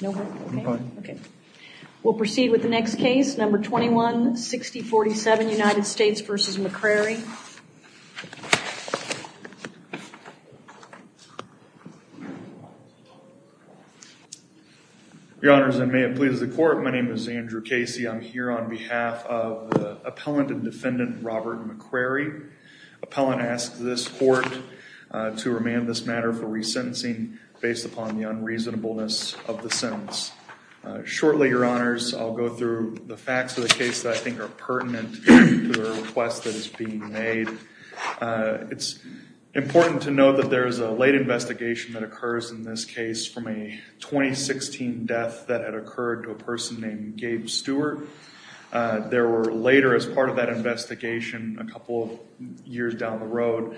We'll proceed with the next case, number 216047 United States v. McCrary. Your Honors, and may it please the Court, my name is Andrew Casey. I'm here on behalf of the Appellant and Defendant Robert McCrary. Appellant asks this Court to remand this matter for resentencing based upon the unreasonableness of the sentence. Shortly, Your Honors, I'll go through the facts of the case that I think are pertinent to the request that is being made. It's important to note that there is a late investigation that occurs in this case from a 2016 death that had occurred to a person named Gabe Stewart. There were later, as part of that investigation, a couple of years down the road,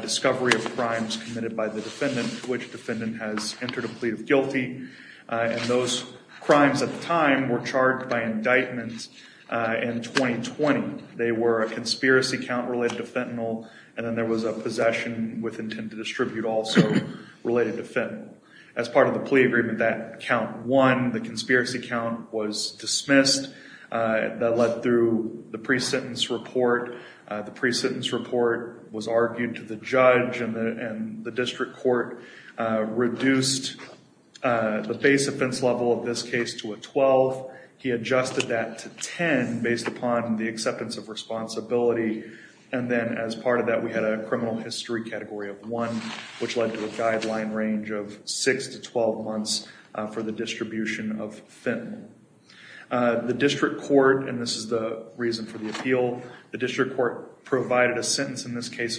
discovery of crimes committed by the Defendant, to which the Defendant has entered a plea of guilty. And those crimes at the time were charged by indictment in 2020. They were a conspiracy count related to fentanyl, and then there was a possession with intent to distribute also related to fentanyl. As part of the plea agreement, that count won. The conspiracy count was dismissed. That led through the pre-sentence report. The pre-sentence report was argued to the District Court, reduced the base offense level of this case to a 12. He adjusted that to 10 based upon the acceptance of responsibility. And then as part of that, we had a criminal history category of 1, which led to a guideline range of 6 to 12 months for the distribution of fentanyl. The District Court, and this is the reason for the appeal, the District Court's ruling in this case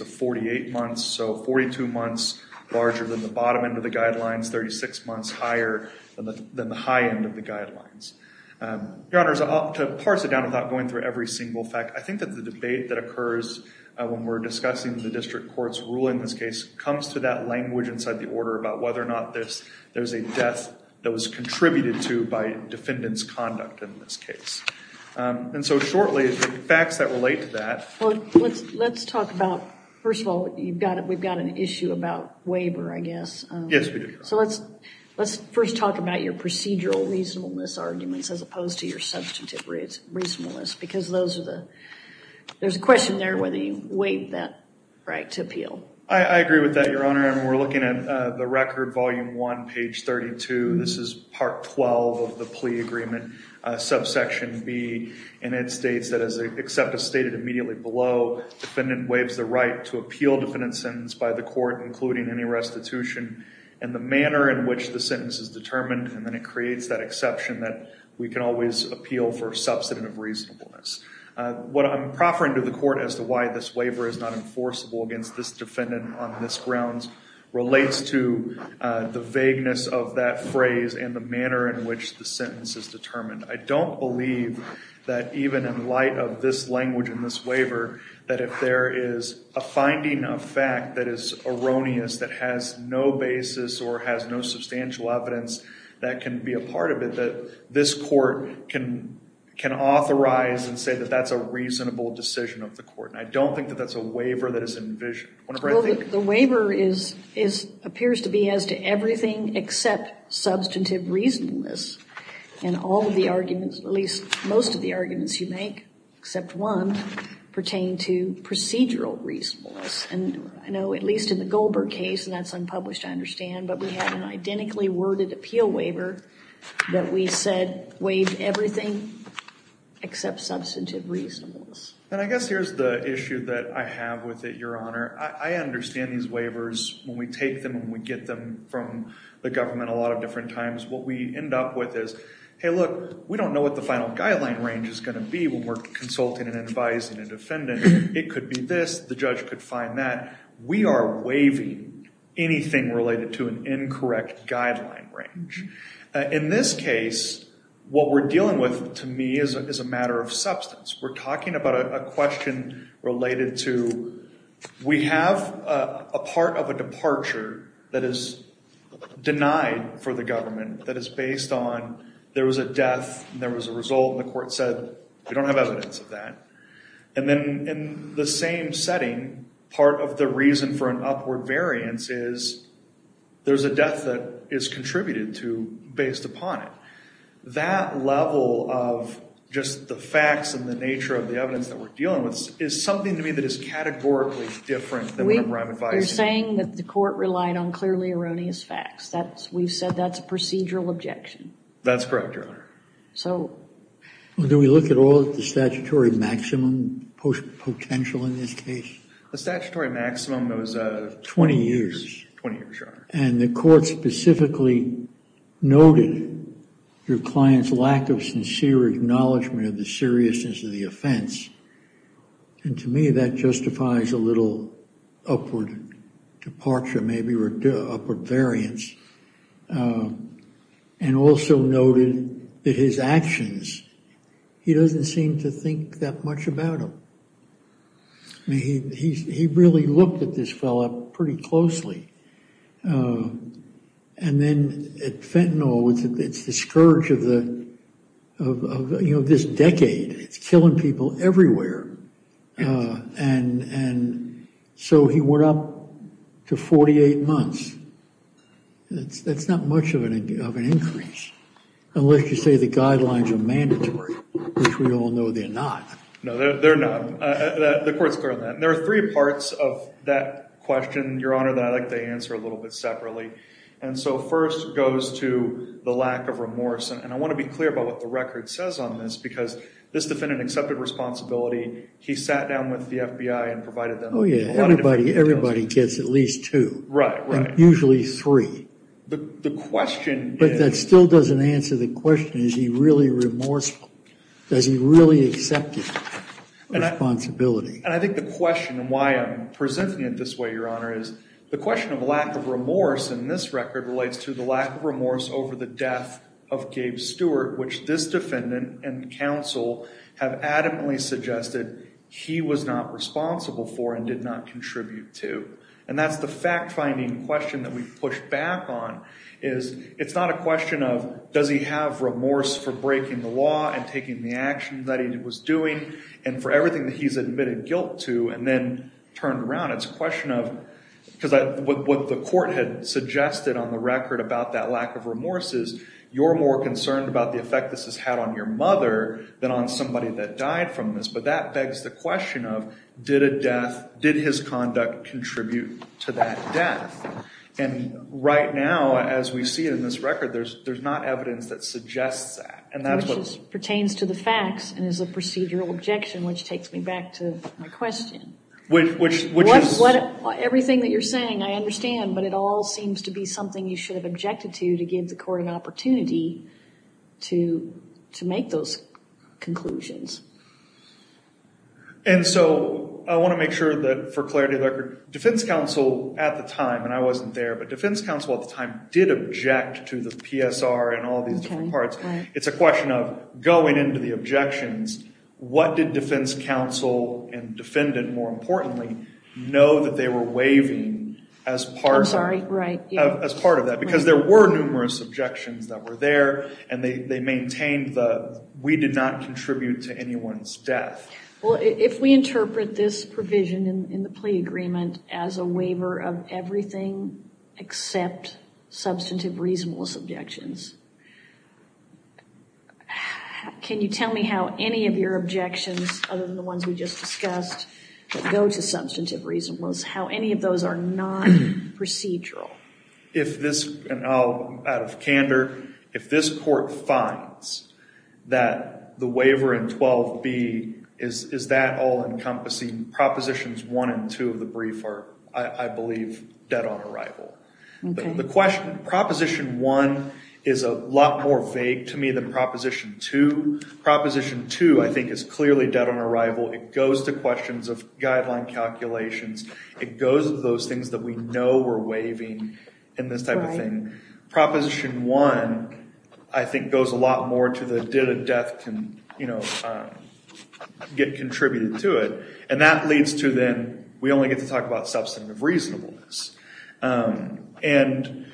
comes to that language inside the order about whether or not there's a death that was contributed to by Defendant's conduct in this case. And so shortly, the facts that relate to that. Well, let's talk about, first of all, we've got an issue about waiver, I guess. Yes, we do. So let's first talk about your procedural reasonableness arguments as opposed to your substantive reasonableness, because there's a question there whether you waived that right to appeal. I agree with that, Your Honor, and we're looking at the record, volume 1, page 32. This is part 12 of the plea agreement, subsection B, and it states that as accepted, stated immediately below, defendant waives the right to appeal defendant's sentence by the court, including any restitution, and the manner in which the sentence is determined, and then it creates that exception that we can always appeal for substantive reasonableness. What I'm proffering to the court as to why this waiver is not enforceable against this manner in which the sentence is determined. I don't believe that even in light of this language in this waiver, that if there is a finding of fact that is erroneous, that has no basis or has no substantial evidence that can be a part of it, that this court can authorize and say that that's a reasonable decision of the court. And I don't think that that's a waiver that is envisioned. The waiver appears to be as to everything except substantive reasonableness. And all of the arguments, at least most of the arguments you make, except one, pertain to procedural reasonableness. And I know at least in the Goldberg case, and that's unpublished, I understand, but we have an identically worded appeal waiver that we said waived everything except substantive reasonableness. And I guess here's the issue that I have with it, Your Honor. I understand these waivers when we take them and we get them from the government a lot of different times. What we end up with is, hey look, we don't know what the final guideline range is going to be when we're consulting and advising a defendant. It could be this, the judge could find that. We are waiving anything related to an incorrect guideline range. In this case, what we're talking about, a question related to we have a part of a departure that is denied for the government that is based on there was a death and there was a result and the court said we don't have evidence of that. And then in the same setting, part of the reason for an upward variance is there's a death that is contributed to based upon it. That level of just the facts and the nature of the evidence that we're dealing with is something to me that is categorically different than what I'm advising. You're saying that the court relied on clearly erroneous facts. That's, we've said that's a procedural objection. That's correct, Your Honor. So do we look at all the statutory maximum potential in this case? The statutory maximum was 20 years. 20 years, Your Honor. And the court specifically noted your client's lack of sincere acknowledgement of the seriousness of the offense. And to me, that justifies a little upward departure, maybe upward variance. And also noted that his actions, he doesn't seem to think that much about them. He really looked at this fella pretty closely. And then at Fentanyl, it's the scourge of the, you know, this decade. It's killing people everywhere. And so he went up to 48 months. That's not much of an increase unless you say the guidelines are mandatory, which we all know they're not. No, they're not. The court's clear on that. And there are three parts of that question, Your Honor, that I'd like to answer a little bit separately. And so first goes to the lack of remorse. And I want to be clear about what the record says on this, because this defendant accepted responsibility. He sat down with the FBI and provided them. Oh, yeah. Everybody gets at least two. Right, right. And usually three. The question is. But that still doesn't answer the question. Is he really remorseful? Does he really accept responsibility? And I think the question and why I'm presenting it this way, Your Honor, is the question of lack of remorse in this record relates to the lack of remorse over the death of Gabe Stewart, which this defendant and counsel have adamantly suggested he was not responsible for and did not contribute to. And that's the fact finding question that we the action that he was doing and for everything that he's admitted guilt to and then turned around. It's a question of, because what the court had suggested on the record about that lack of remorse is you're more concerned about the effect this has had on your mother than on somebody that died from this. But that begs the question of, did a death, did his conduct contribute to that death? And right now, as we see in this record, there's not evidence that suggests that. Which pertains to the facts and is a procedural objection, which takes me back to my question. Everything that you're saying, I understand, but it all seems to be something you should have objected to to give the court an opportunity to make those conclusions. And so I want to make sure that for clarity of the record, defense counsel at the time, and I wasn't there, but defense counsel at the time did object to the PSR and all these different going into the objections, what did defense counsel and defendant, more importantly, know that they were waiving as part of that? Because there were numerous objections that were there and they maintained the, we did not contribute to anyone's death. Well, if we interpret this provision in the plea agreement as a waiver of everything except substantive reasonableness objections, can you tell me how any of your objections, other than the ones we just discussed, that go to substantive reasonableness, how any of those are non-procedural? If this, and out of candor, if this court finds that the waiver in 12b, is that all encompassing propositions one and two of the brief are, I believe, dead on arrival. But the question, proposition one is a lot more vague to me than proposition two. Proposition two, I think, is clearly dead on arrival. It goes to questions of guideline calculations. It goes to those things that we know we're waiving and this type of thing. Proposition one, I think, goes a lot more to the did a death get contributed to it. And that leads to then, we only get to talk about substantive reasonableness. And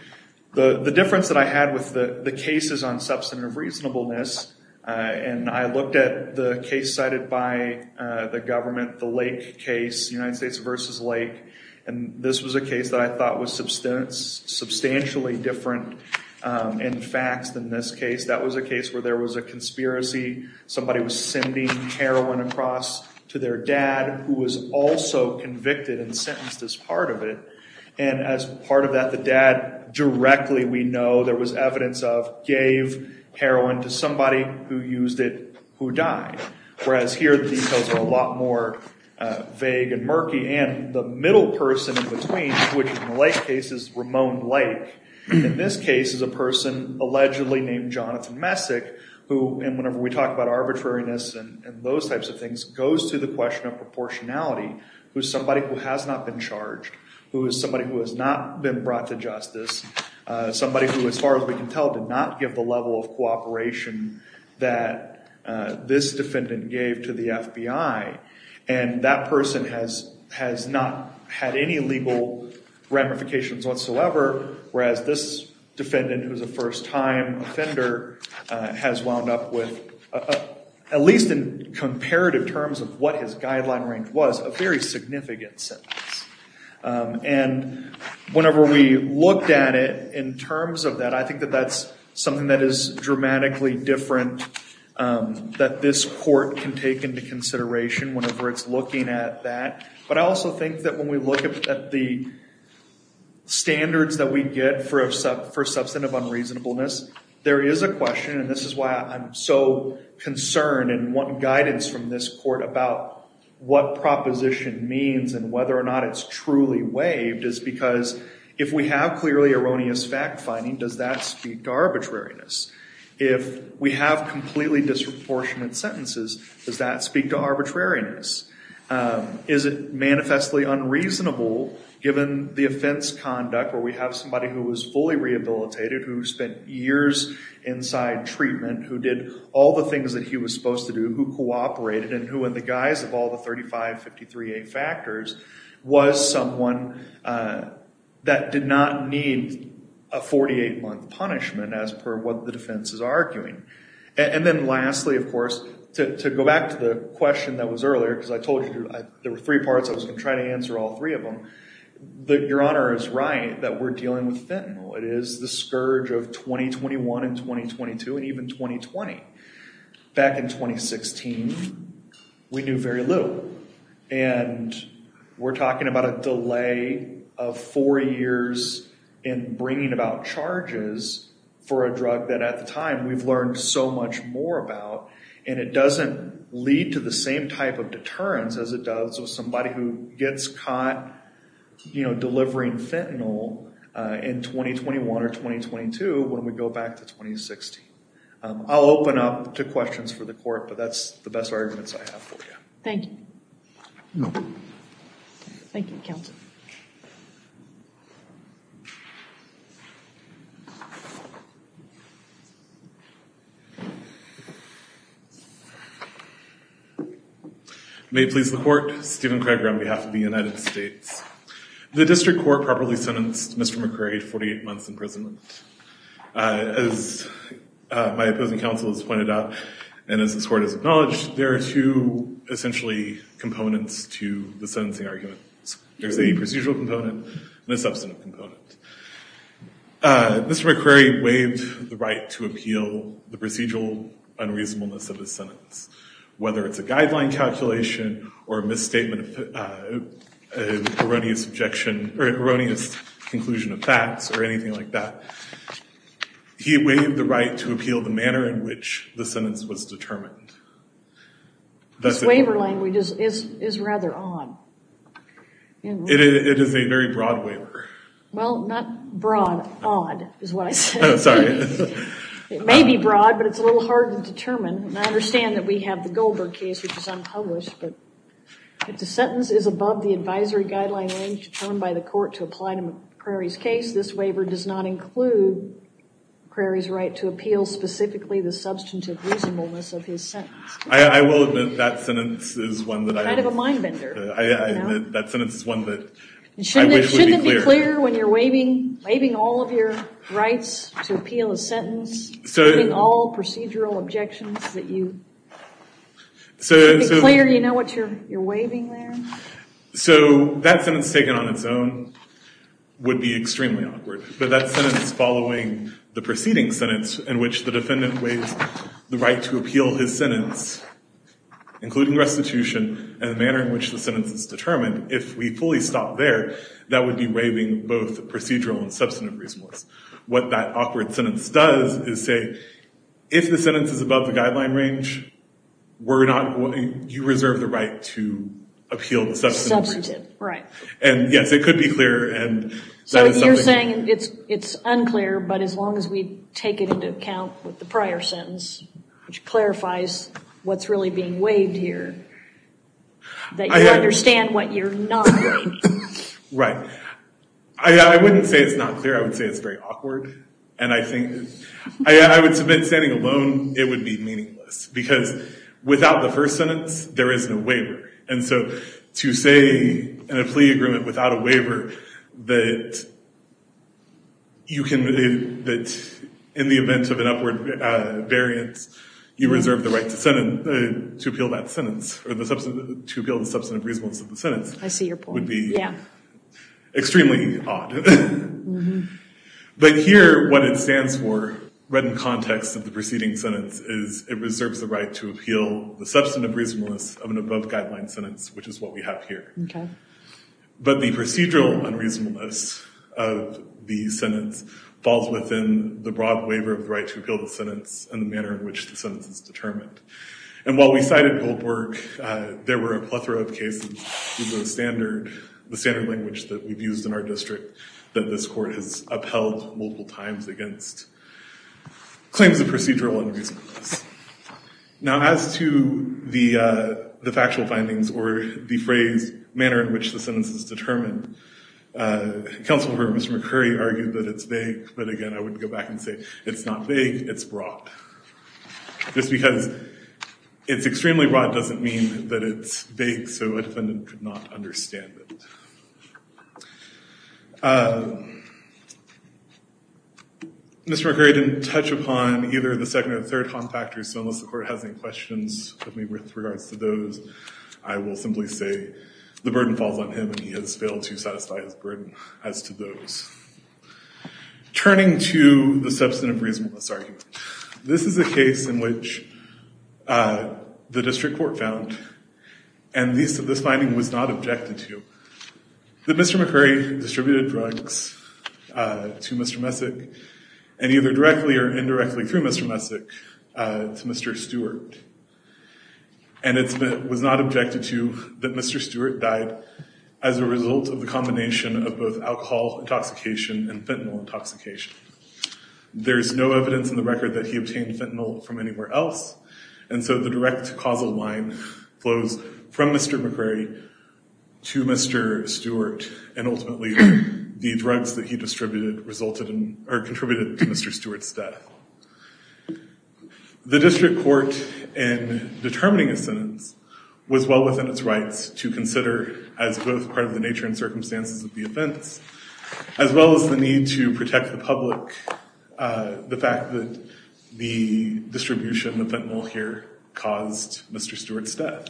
the difference that I had with the cases on substantive reasonableness, and I looked at the case cited by the government, the Lake case, United States versus Lake, and this was a case that I thought was substantially different in facts than this case. That was a case where there was a conspiracy. Somebody was sending heroin across to their dad, who was also convicted and sentenced as part of it. And as part of that, the dad directly, we know there was evidence of, gave heroin to somebody who used it, who died. Whereas here, the details are a lot more vague and murky. And the middle person in between, which in the Lake case is Ramon Blake, in this case is a person allegedly named Jonathan Messick, who, and whenever we talk about arbitrariness and those types of things, goes to the question of proportionality, who's somebody who has not been charged, who is somebody who has not been brought to justice, somebody who, as far as we can tell, did not give the level of cooperation that this defendant gave to the FBI. And that person has not had any legal ramifications whatsoever, whereas this defendant, who's a first-time offender, has wound up with, at least in comparative terms of what his guideline range was, a very significant sentence. And whenever we looked at it in terms of that, I think that that's something that is dramatically different that this court can take into consideration whenever it's looking at that. But I also think that when we look at the standards that we get for substantive unreasonableness, there is a question, and this is why I'm so concerned and want guidance from this court about what proposition means and whether or not it's truly waived, is because if we have clearly erroneous fact-finding, does that speak to arbitrariness? If we have completely disproportionate sentences, does that speak to given the offense conduct where we have somebody who was fully rehabilitated, who spent years inside treatment, who did all the things that he was supposed to do, who cooperated, and who, in the guise of all the 35-53-8 factors, was someone that did not need a 48-month punishment as per what the defense is arguing? And then lastly, of course, to go back to the question that was given, your Honor is right that we're dealing with fentanyl. It is the scourge of 2021 and 2022 and even 2020. Back in 2016, we knew very little, and we're talking about a delay of four years in bringing about charges for a drug that at the time we've learned so much more about, and it you know, delivering fentanyl in 2021 or 2022 when we go back to 2016. I'll open up to questions for the court, but that's the best arguments I have for you. Thank you. Thank you, counsel. May it please the court, Stephen Craig on behalf of the United States. The district court properly sentenced Mr. McCrae to 48 months imprisonment. As my opposing counsel has pointed out, and as this court has acknowledged, there are two essentially components to the sentencing argument. There's a procedural component and a substantive component. Mr. McCrae waived the right to appeal the procedural unreasonableness of his sentence, whether it's a guideline calculation or a misstatement of erroneous objection or erroneous conclusion of facts or anything like that. He waived the right to appeal the manner in which the sentence was determined. This waiver language is rather odd. It is a very broad waiver. Well, not broad. Odd is what I said. Sorry. It may be broad, but it's a little hard to determine. I understand that we have the Goldberg case, which is unpublished, but if the sentence is above the advisory guideline range determined by the court to apply to McCrae's case, this waiver does not include McCrae's right to appeal specifically the substantive reasonableness of his sentence. I will admit that sentence is one that I... Kind of a mind bender. I admit that sentence is one that I wish would be clear. Shouldn't it be clear when you're waiving all of your rights to appeal a sentence, including all procedural objections that you... Should it be clear you know what you're waiving there? So that sentence taken on its own would be extremely awkward, but that sentence following the preceding sentence in which the the right to appeal his sentence, including restitution, and the manner in which the sentence is determined, if we fully stop there, that would be waiving both procedural and substantive reasonableness. What that awkward sentence does is say, if the sentence is above the guideline range, you reserve the right to appeal the substantive. Right. And yes, it could be clear. So you're saying it's unclear, but as long as we take it into account with the prior sentence, which clarifies what's really being waived here, that you understand what you're not waiving. Right. I wouldn't say it's not clear. I would say it's very awkward, and I think I would submit standing alone it would be meaningless, because without the first sentence, there is no waiver. And so to say in a plea agreement without a waiver, that in the event of an upward variance, you reserve the right to appeal that sentence, or to appeal the substantive reasonableness of the sentence. I see your point. Would be extremely odd. But here what it stands for, read in context of the preceding sentence, is it reserves the right to appeal the substantive reasonableness of an above-guideline sentence, which is what we have here. But the procedural unreasonableness of the sentence falls within the broad waiver of the right to appeal the sentence and the manner in which the sentence is determined. And while we cited Goldberg, there were a plethora of cases with the standard language that we've used in our district, that this court has upheld multiple times against claims of procedural unreasonableness. Now as to the factual findings or the phrase manner in which the sentence is determined, counsel for Mr. McCurry argued that it's vague, but again I wouldn't go back and say it's not vague, it's broad. Just because it's extremely broad doesn't mean that it's vague so a defendant could not understand it. Mr. McCurry didn't touch upon either the second or third contractor, so unless the court has any questions with regards to those, I will simply say the burden falls on him and he has failed to satisfy his burden as to those. Turning to the substantive reasonableness argument, this is a case in which the district court found, and this finding was not objected to, that Mr. McCurry distributed drugs to Mr. Messick and either directly or indirectly through Mr. Messick to Mr. Stewart. And it was not objected to that Mr. Stewart died as a result of the combination of both alcohol intoxication and fentanyl intoxication. There is no evidence in the case of Mr. McCurry anywhere else and so the direct causal line flows from Mr. McCurry to Mr. Stewart and ultimately the drugs that he distributed resulted in or contributed to Mr. Stewart's death. The district court in determining a sentence was well within its rights to consider as both part of the nature and circumstances of the offense, as well as the need to protect the public, the fact that the distribution of fentanyl here caused Mr. Stewart's death.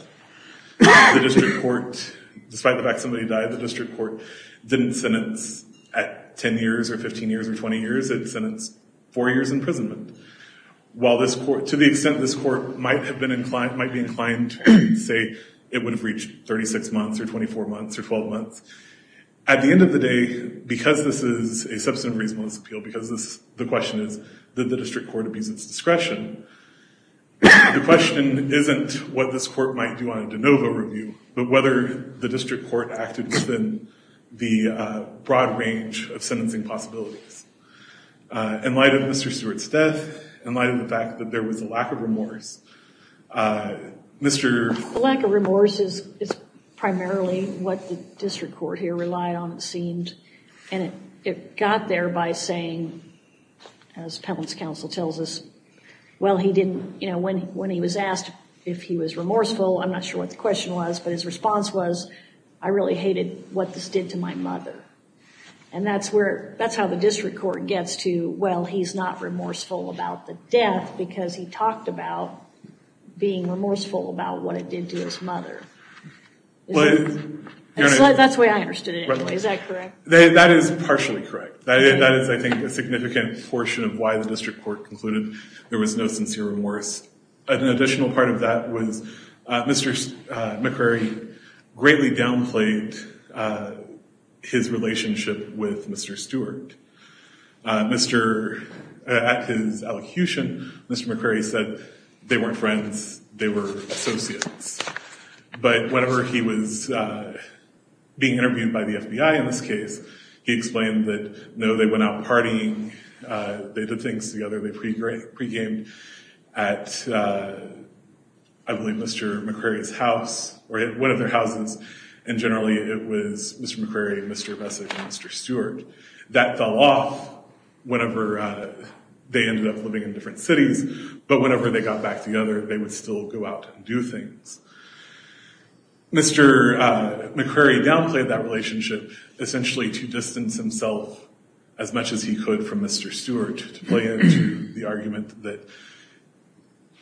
The district court, despite the fact somebody died, the district court didn't sentence at 10 years or 15 years or 20 years, it sentenced four years imprisonment. While this court, to the extent this court might have been inclined, might be inclined to say it would have reached 36 months or 24 months or 12 months, at the end of the day, because this is a substantive reasonableness appeal, because the question is did the district court abuse its discretion, the question isn't what this court might do on a de novo review, but whether the district court acted within the broad range of sentencing possibilities. In light of Mr. Stewart's death, in light of the fact that there was a lack of remorse, Mr.... The lack of remorse is primarily what the district court here relied on, it seemed, and it got there by saying, as Appellant's counsel tells us, well, he didn't, you know, when he was asked if he was remorseful, I'm not sure what the question was, but his response was, I really hated what this did to my mother. And that's where, that's how the district court gets to, well, he's not remorseful about the death, because he talked about being remorseful about what it did to his mother. That's the way I understood it anyway, is that correct? That is partially correct. That is, I think, a significant portion of why the district court concluded there was no sincere remorse. An additional part of that was Mr. McCrary greatly downplayed his relationship with Mr. Stewart. At his elocution, Mr. McCrary said they weren't friends, they were associates. But whenever he was being interviewed by the FBI in this case, he explained that, no, they went out partying, they did things together, they pre-gamed at, I believe, Mr. McCrary's house, or one of their houses, and generally it was Mr. McCrary, Mr. Vesic, and Mr. Stewart. That fell off whenever they ended up living in different cities, but whenever they got back together, they would still go out and do things. Mr. McCrary downplayed that relationship essentially to distance himself as much as he could from Mr. Stewart, to play into the argument that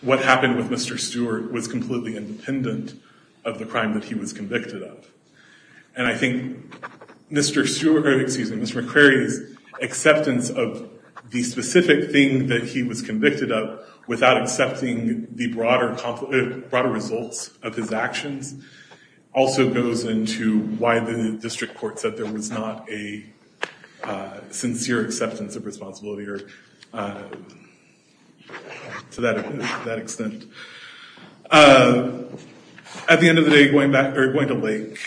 what happened with Mr. Stewart was completely independent of the crime that he was convicted of. And I think Mr. McCrary's acceptance of the specific thing that he was convicted of, without accepting the broader results of his actions, also goes into why the district court said there was not a sincere acceptance of responsibility to that extent. At the end of the day, going to Lake,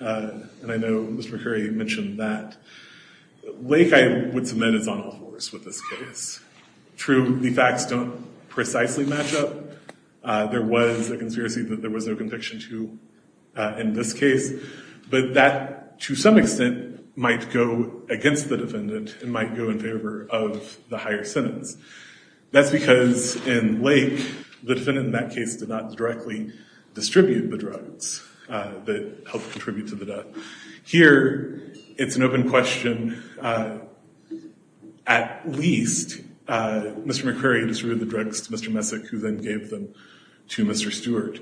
and I know Mr. McCrary mentioned that, Lake, I would submit, is on all fours with this case. True, the facts don't precisely match up. There was a conspiracy that there was no conviction to in this case, but that, to some extent, might go against the defendant and might go in favor of the higher sentence. That's because in Lake, the defendant in that case did not directly distribute the drugs that helped contribute to the death. Here, it's an open question. At least Mr. McCrary distributed the drugs to Mr. Vesic, who then gave them to Mr. Stewart.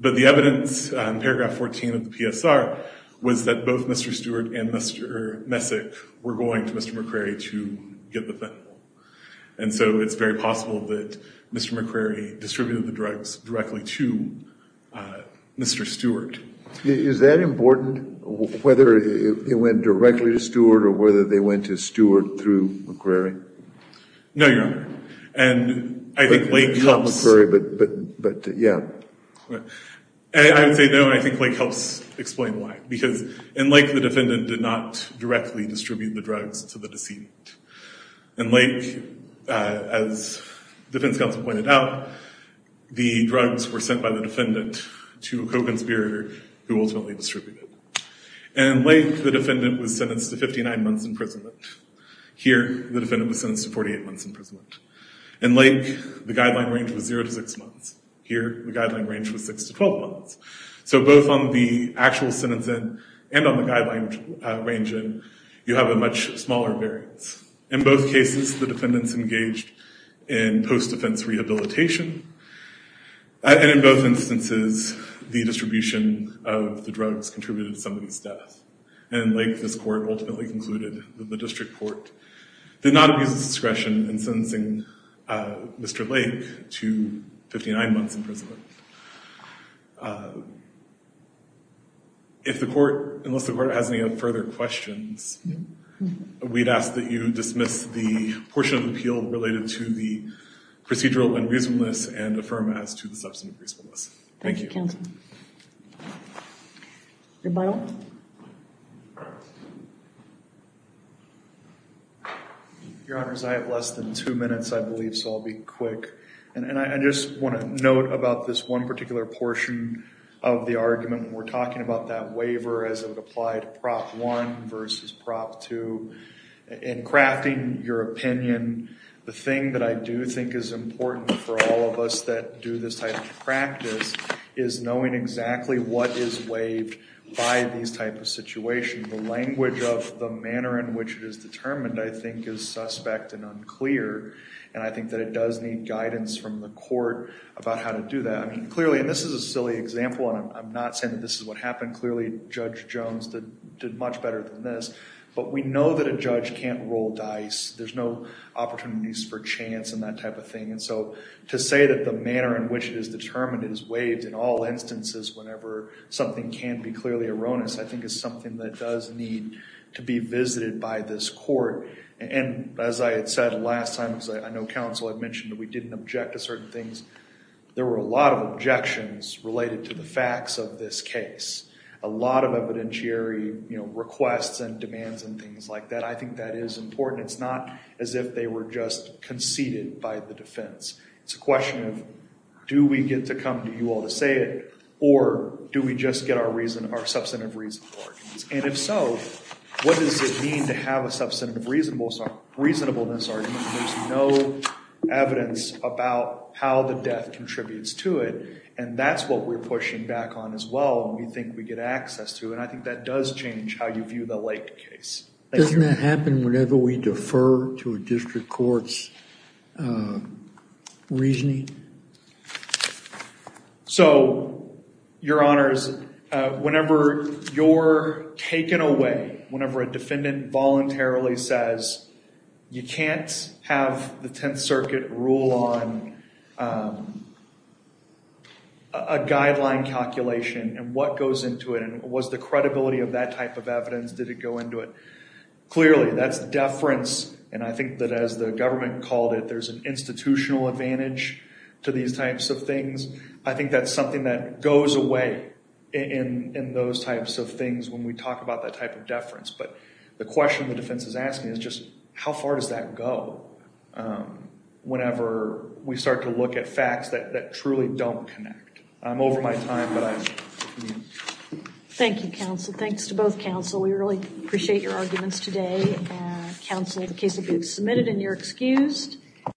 But the evidence, paragraph 14 of the PSR, was that both Mr. Stewart and Mr. Vesic were going to Mr. McCrary to get the thing. And so it's very possible that Mr. McCrary distributed the drugs directly to Mr. Stewart. Is that important, whether it went directly to Stewart or whether they went to Stewart through McCrary? No, Your Honor. And I think Lake helps explain why. Because in Lake, the defendant did not directly distribute the drugs to the deceased. In Lake, as defense counsel pointed out, the drugs were sent by the defendant to Kogenspeer, who ultimately distributed. And in Lake, the defendant was sentenced to 59 months imprisonment. Here, the defendant was sentenced to 48 months imprisonment. In Lake, the guideline range was 0 to 6 months. Here, the guideline range was 6 to 12 months. So both on the actual sentence end and on the guideline range end, you have a much smaller variance. In both cases, the defendants engaged in post-defense rehabilitation. And in both instances, the distribution of the drugs contributed to somebody's death. And in Lake, this court ultimately concluded that the district court did not abuse its discretion in sentencing Mr. Lake to 59 months imprisonment. If the court, unless the court has any further questions, we'd ask that you dismiss the portion of the appeal related to the procedural unreasonableness and affirm as to the substantive reasonableness. Thank you. Your Honors, I have less than two minutes, I believe, so I'll be quick. And I just want to note about this one particular portion of the argument. We're talking about that waiver as it to in crafting your opinion. The thing that I do think is important for all of us that do this type of practice is knowing exactly what is waived by these type of situations. The language of the manner in which it is determined, I think, is suspect and unclear. And I think that it does need guidance from the court about how to do that. I mean, clearly, and this is a silly example, and I'm not saying that this is what happened. Clearly, Judge Jones did much better than this. But we know that a judge can't roll dice. There's no opportunities for chance and that type of thing. And so to say that the manner in which it is determined is waived in all instances, whenever something can be clearly erroneous, I think is something that does need to be visited by this court. And as I had said last time, I know counsel had mentioned that we didn't object to certain things. There were a lot of objections related to the facts of this case. A lot of things like that. I think that is important. It's not as if they were just conceded by the defense. It's a question of, do we get to come to you all to say it, or do we just get our reason, our substantive reason for it? And if so, what does it mean to have a substantive reasonableness argument when there's no evidence about how the death contributes to it? And that's what we're pushing back on as well, and we think we get access to. And I think that does change how you look at a case. Doesn't that happen whenever we defer to a district court's reasoning? So, your honors, whenever you're taken away, whenever a defendant voluntarily says, you can't have the Tenth Circuit rule on a guideline calculation and what goes into it, was the credibility of that type of evidence? Did it go into it? Clearly, that's deference, and I think that as the government called it, there's an institutional advantage to these types of things. I think that's something that goes away in those types of things when we talk about that type of deference. But the question the defense is asking is just, how far does that go whenever we start to look at facts that truly don't connect? I'm over my time, but thank you, counsel. Thanks to both counsel. We really appreciate your arguments today. Counsel, the case will be submitted and you're excused.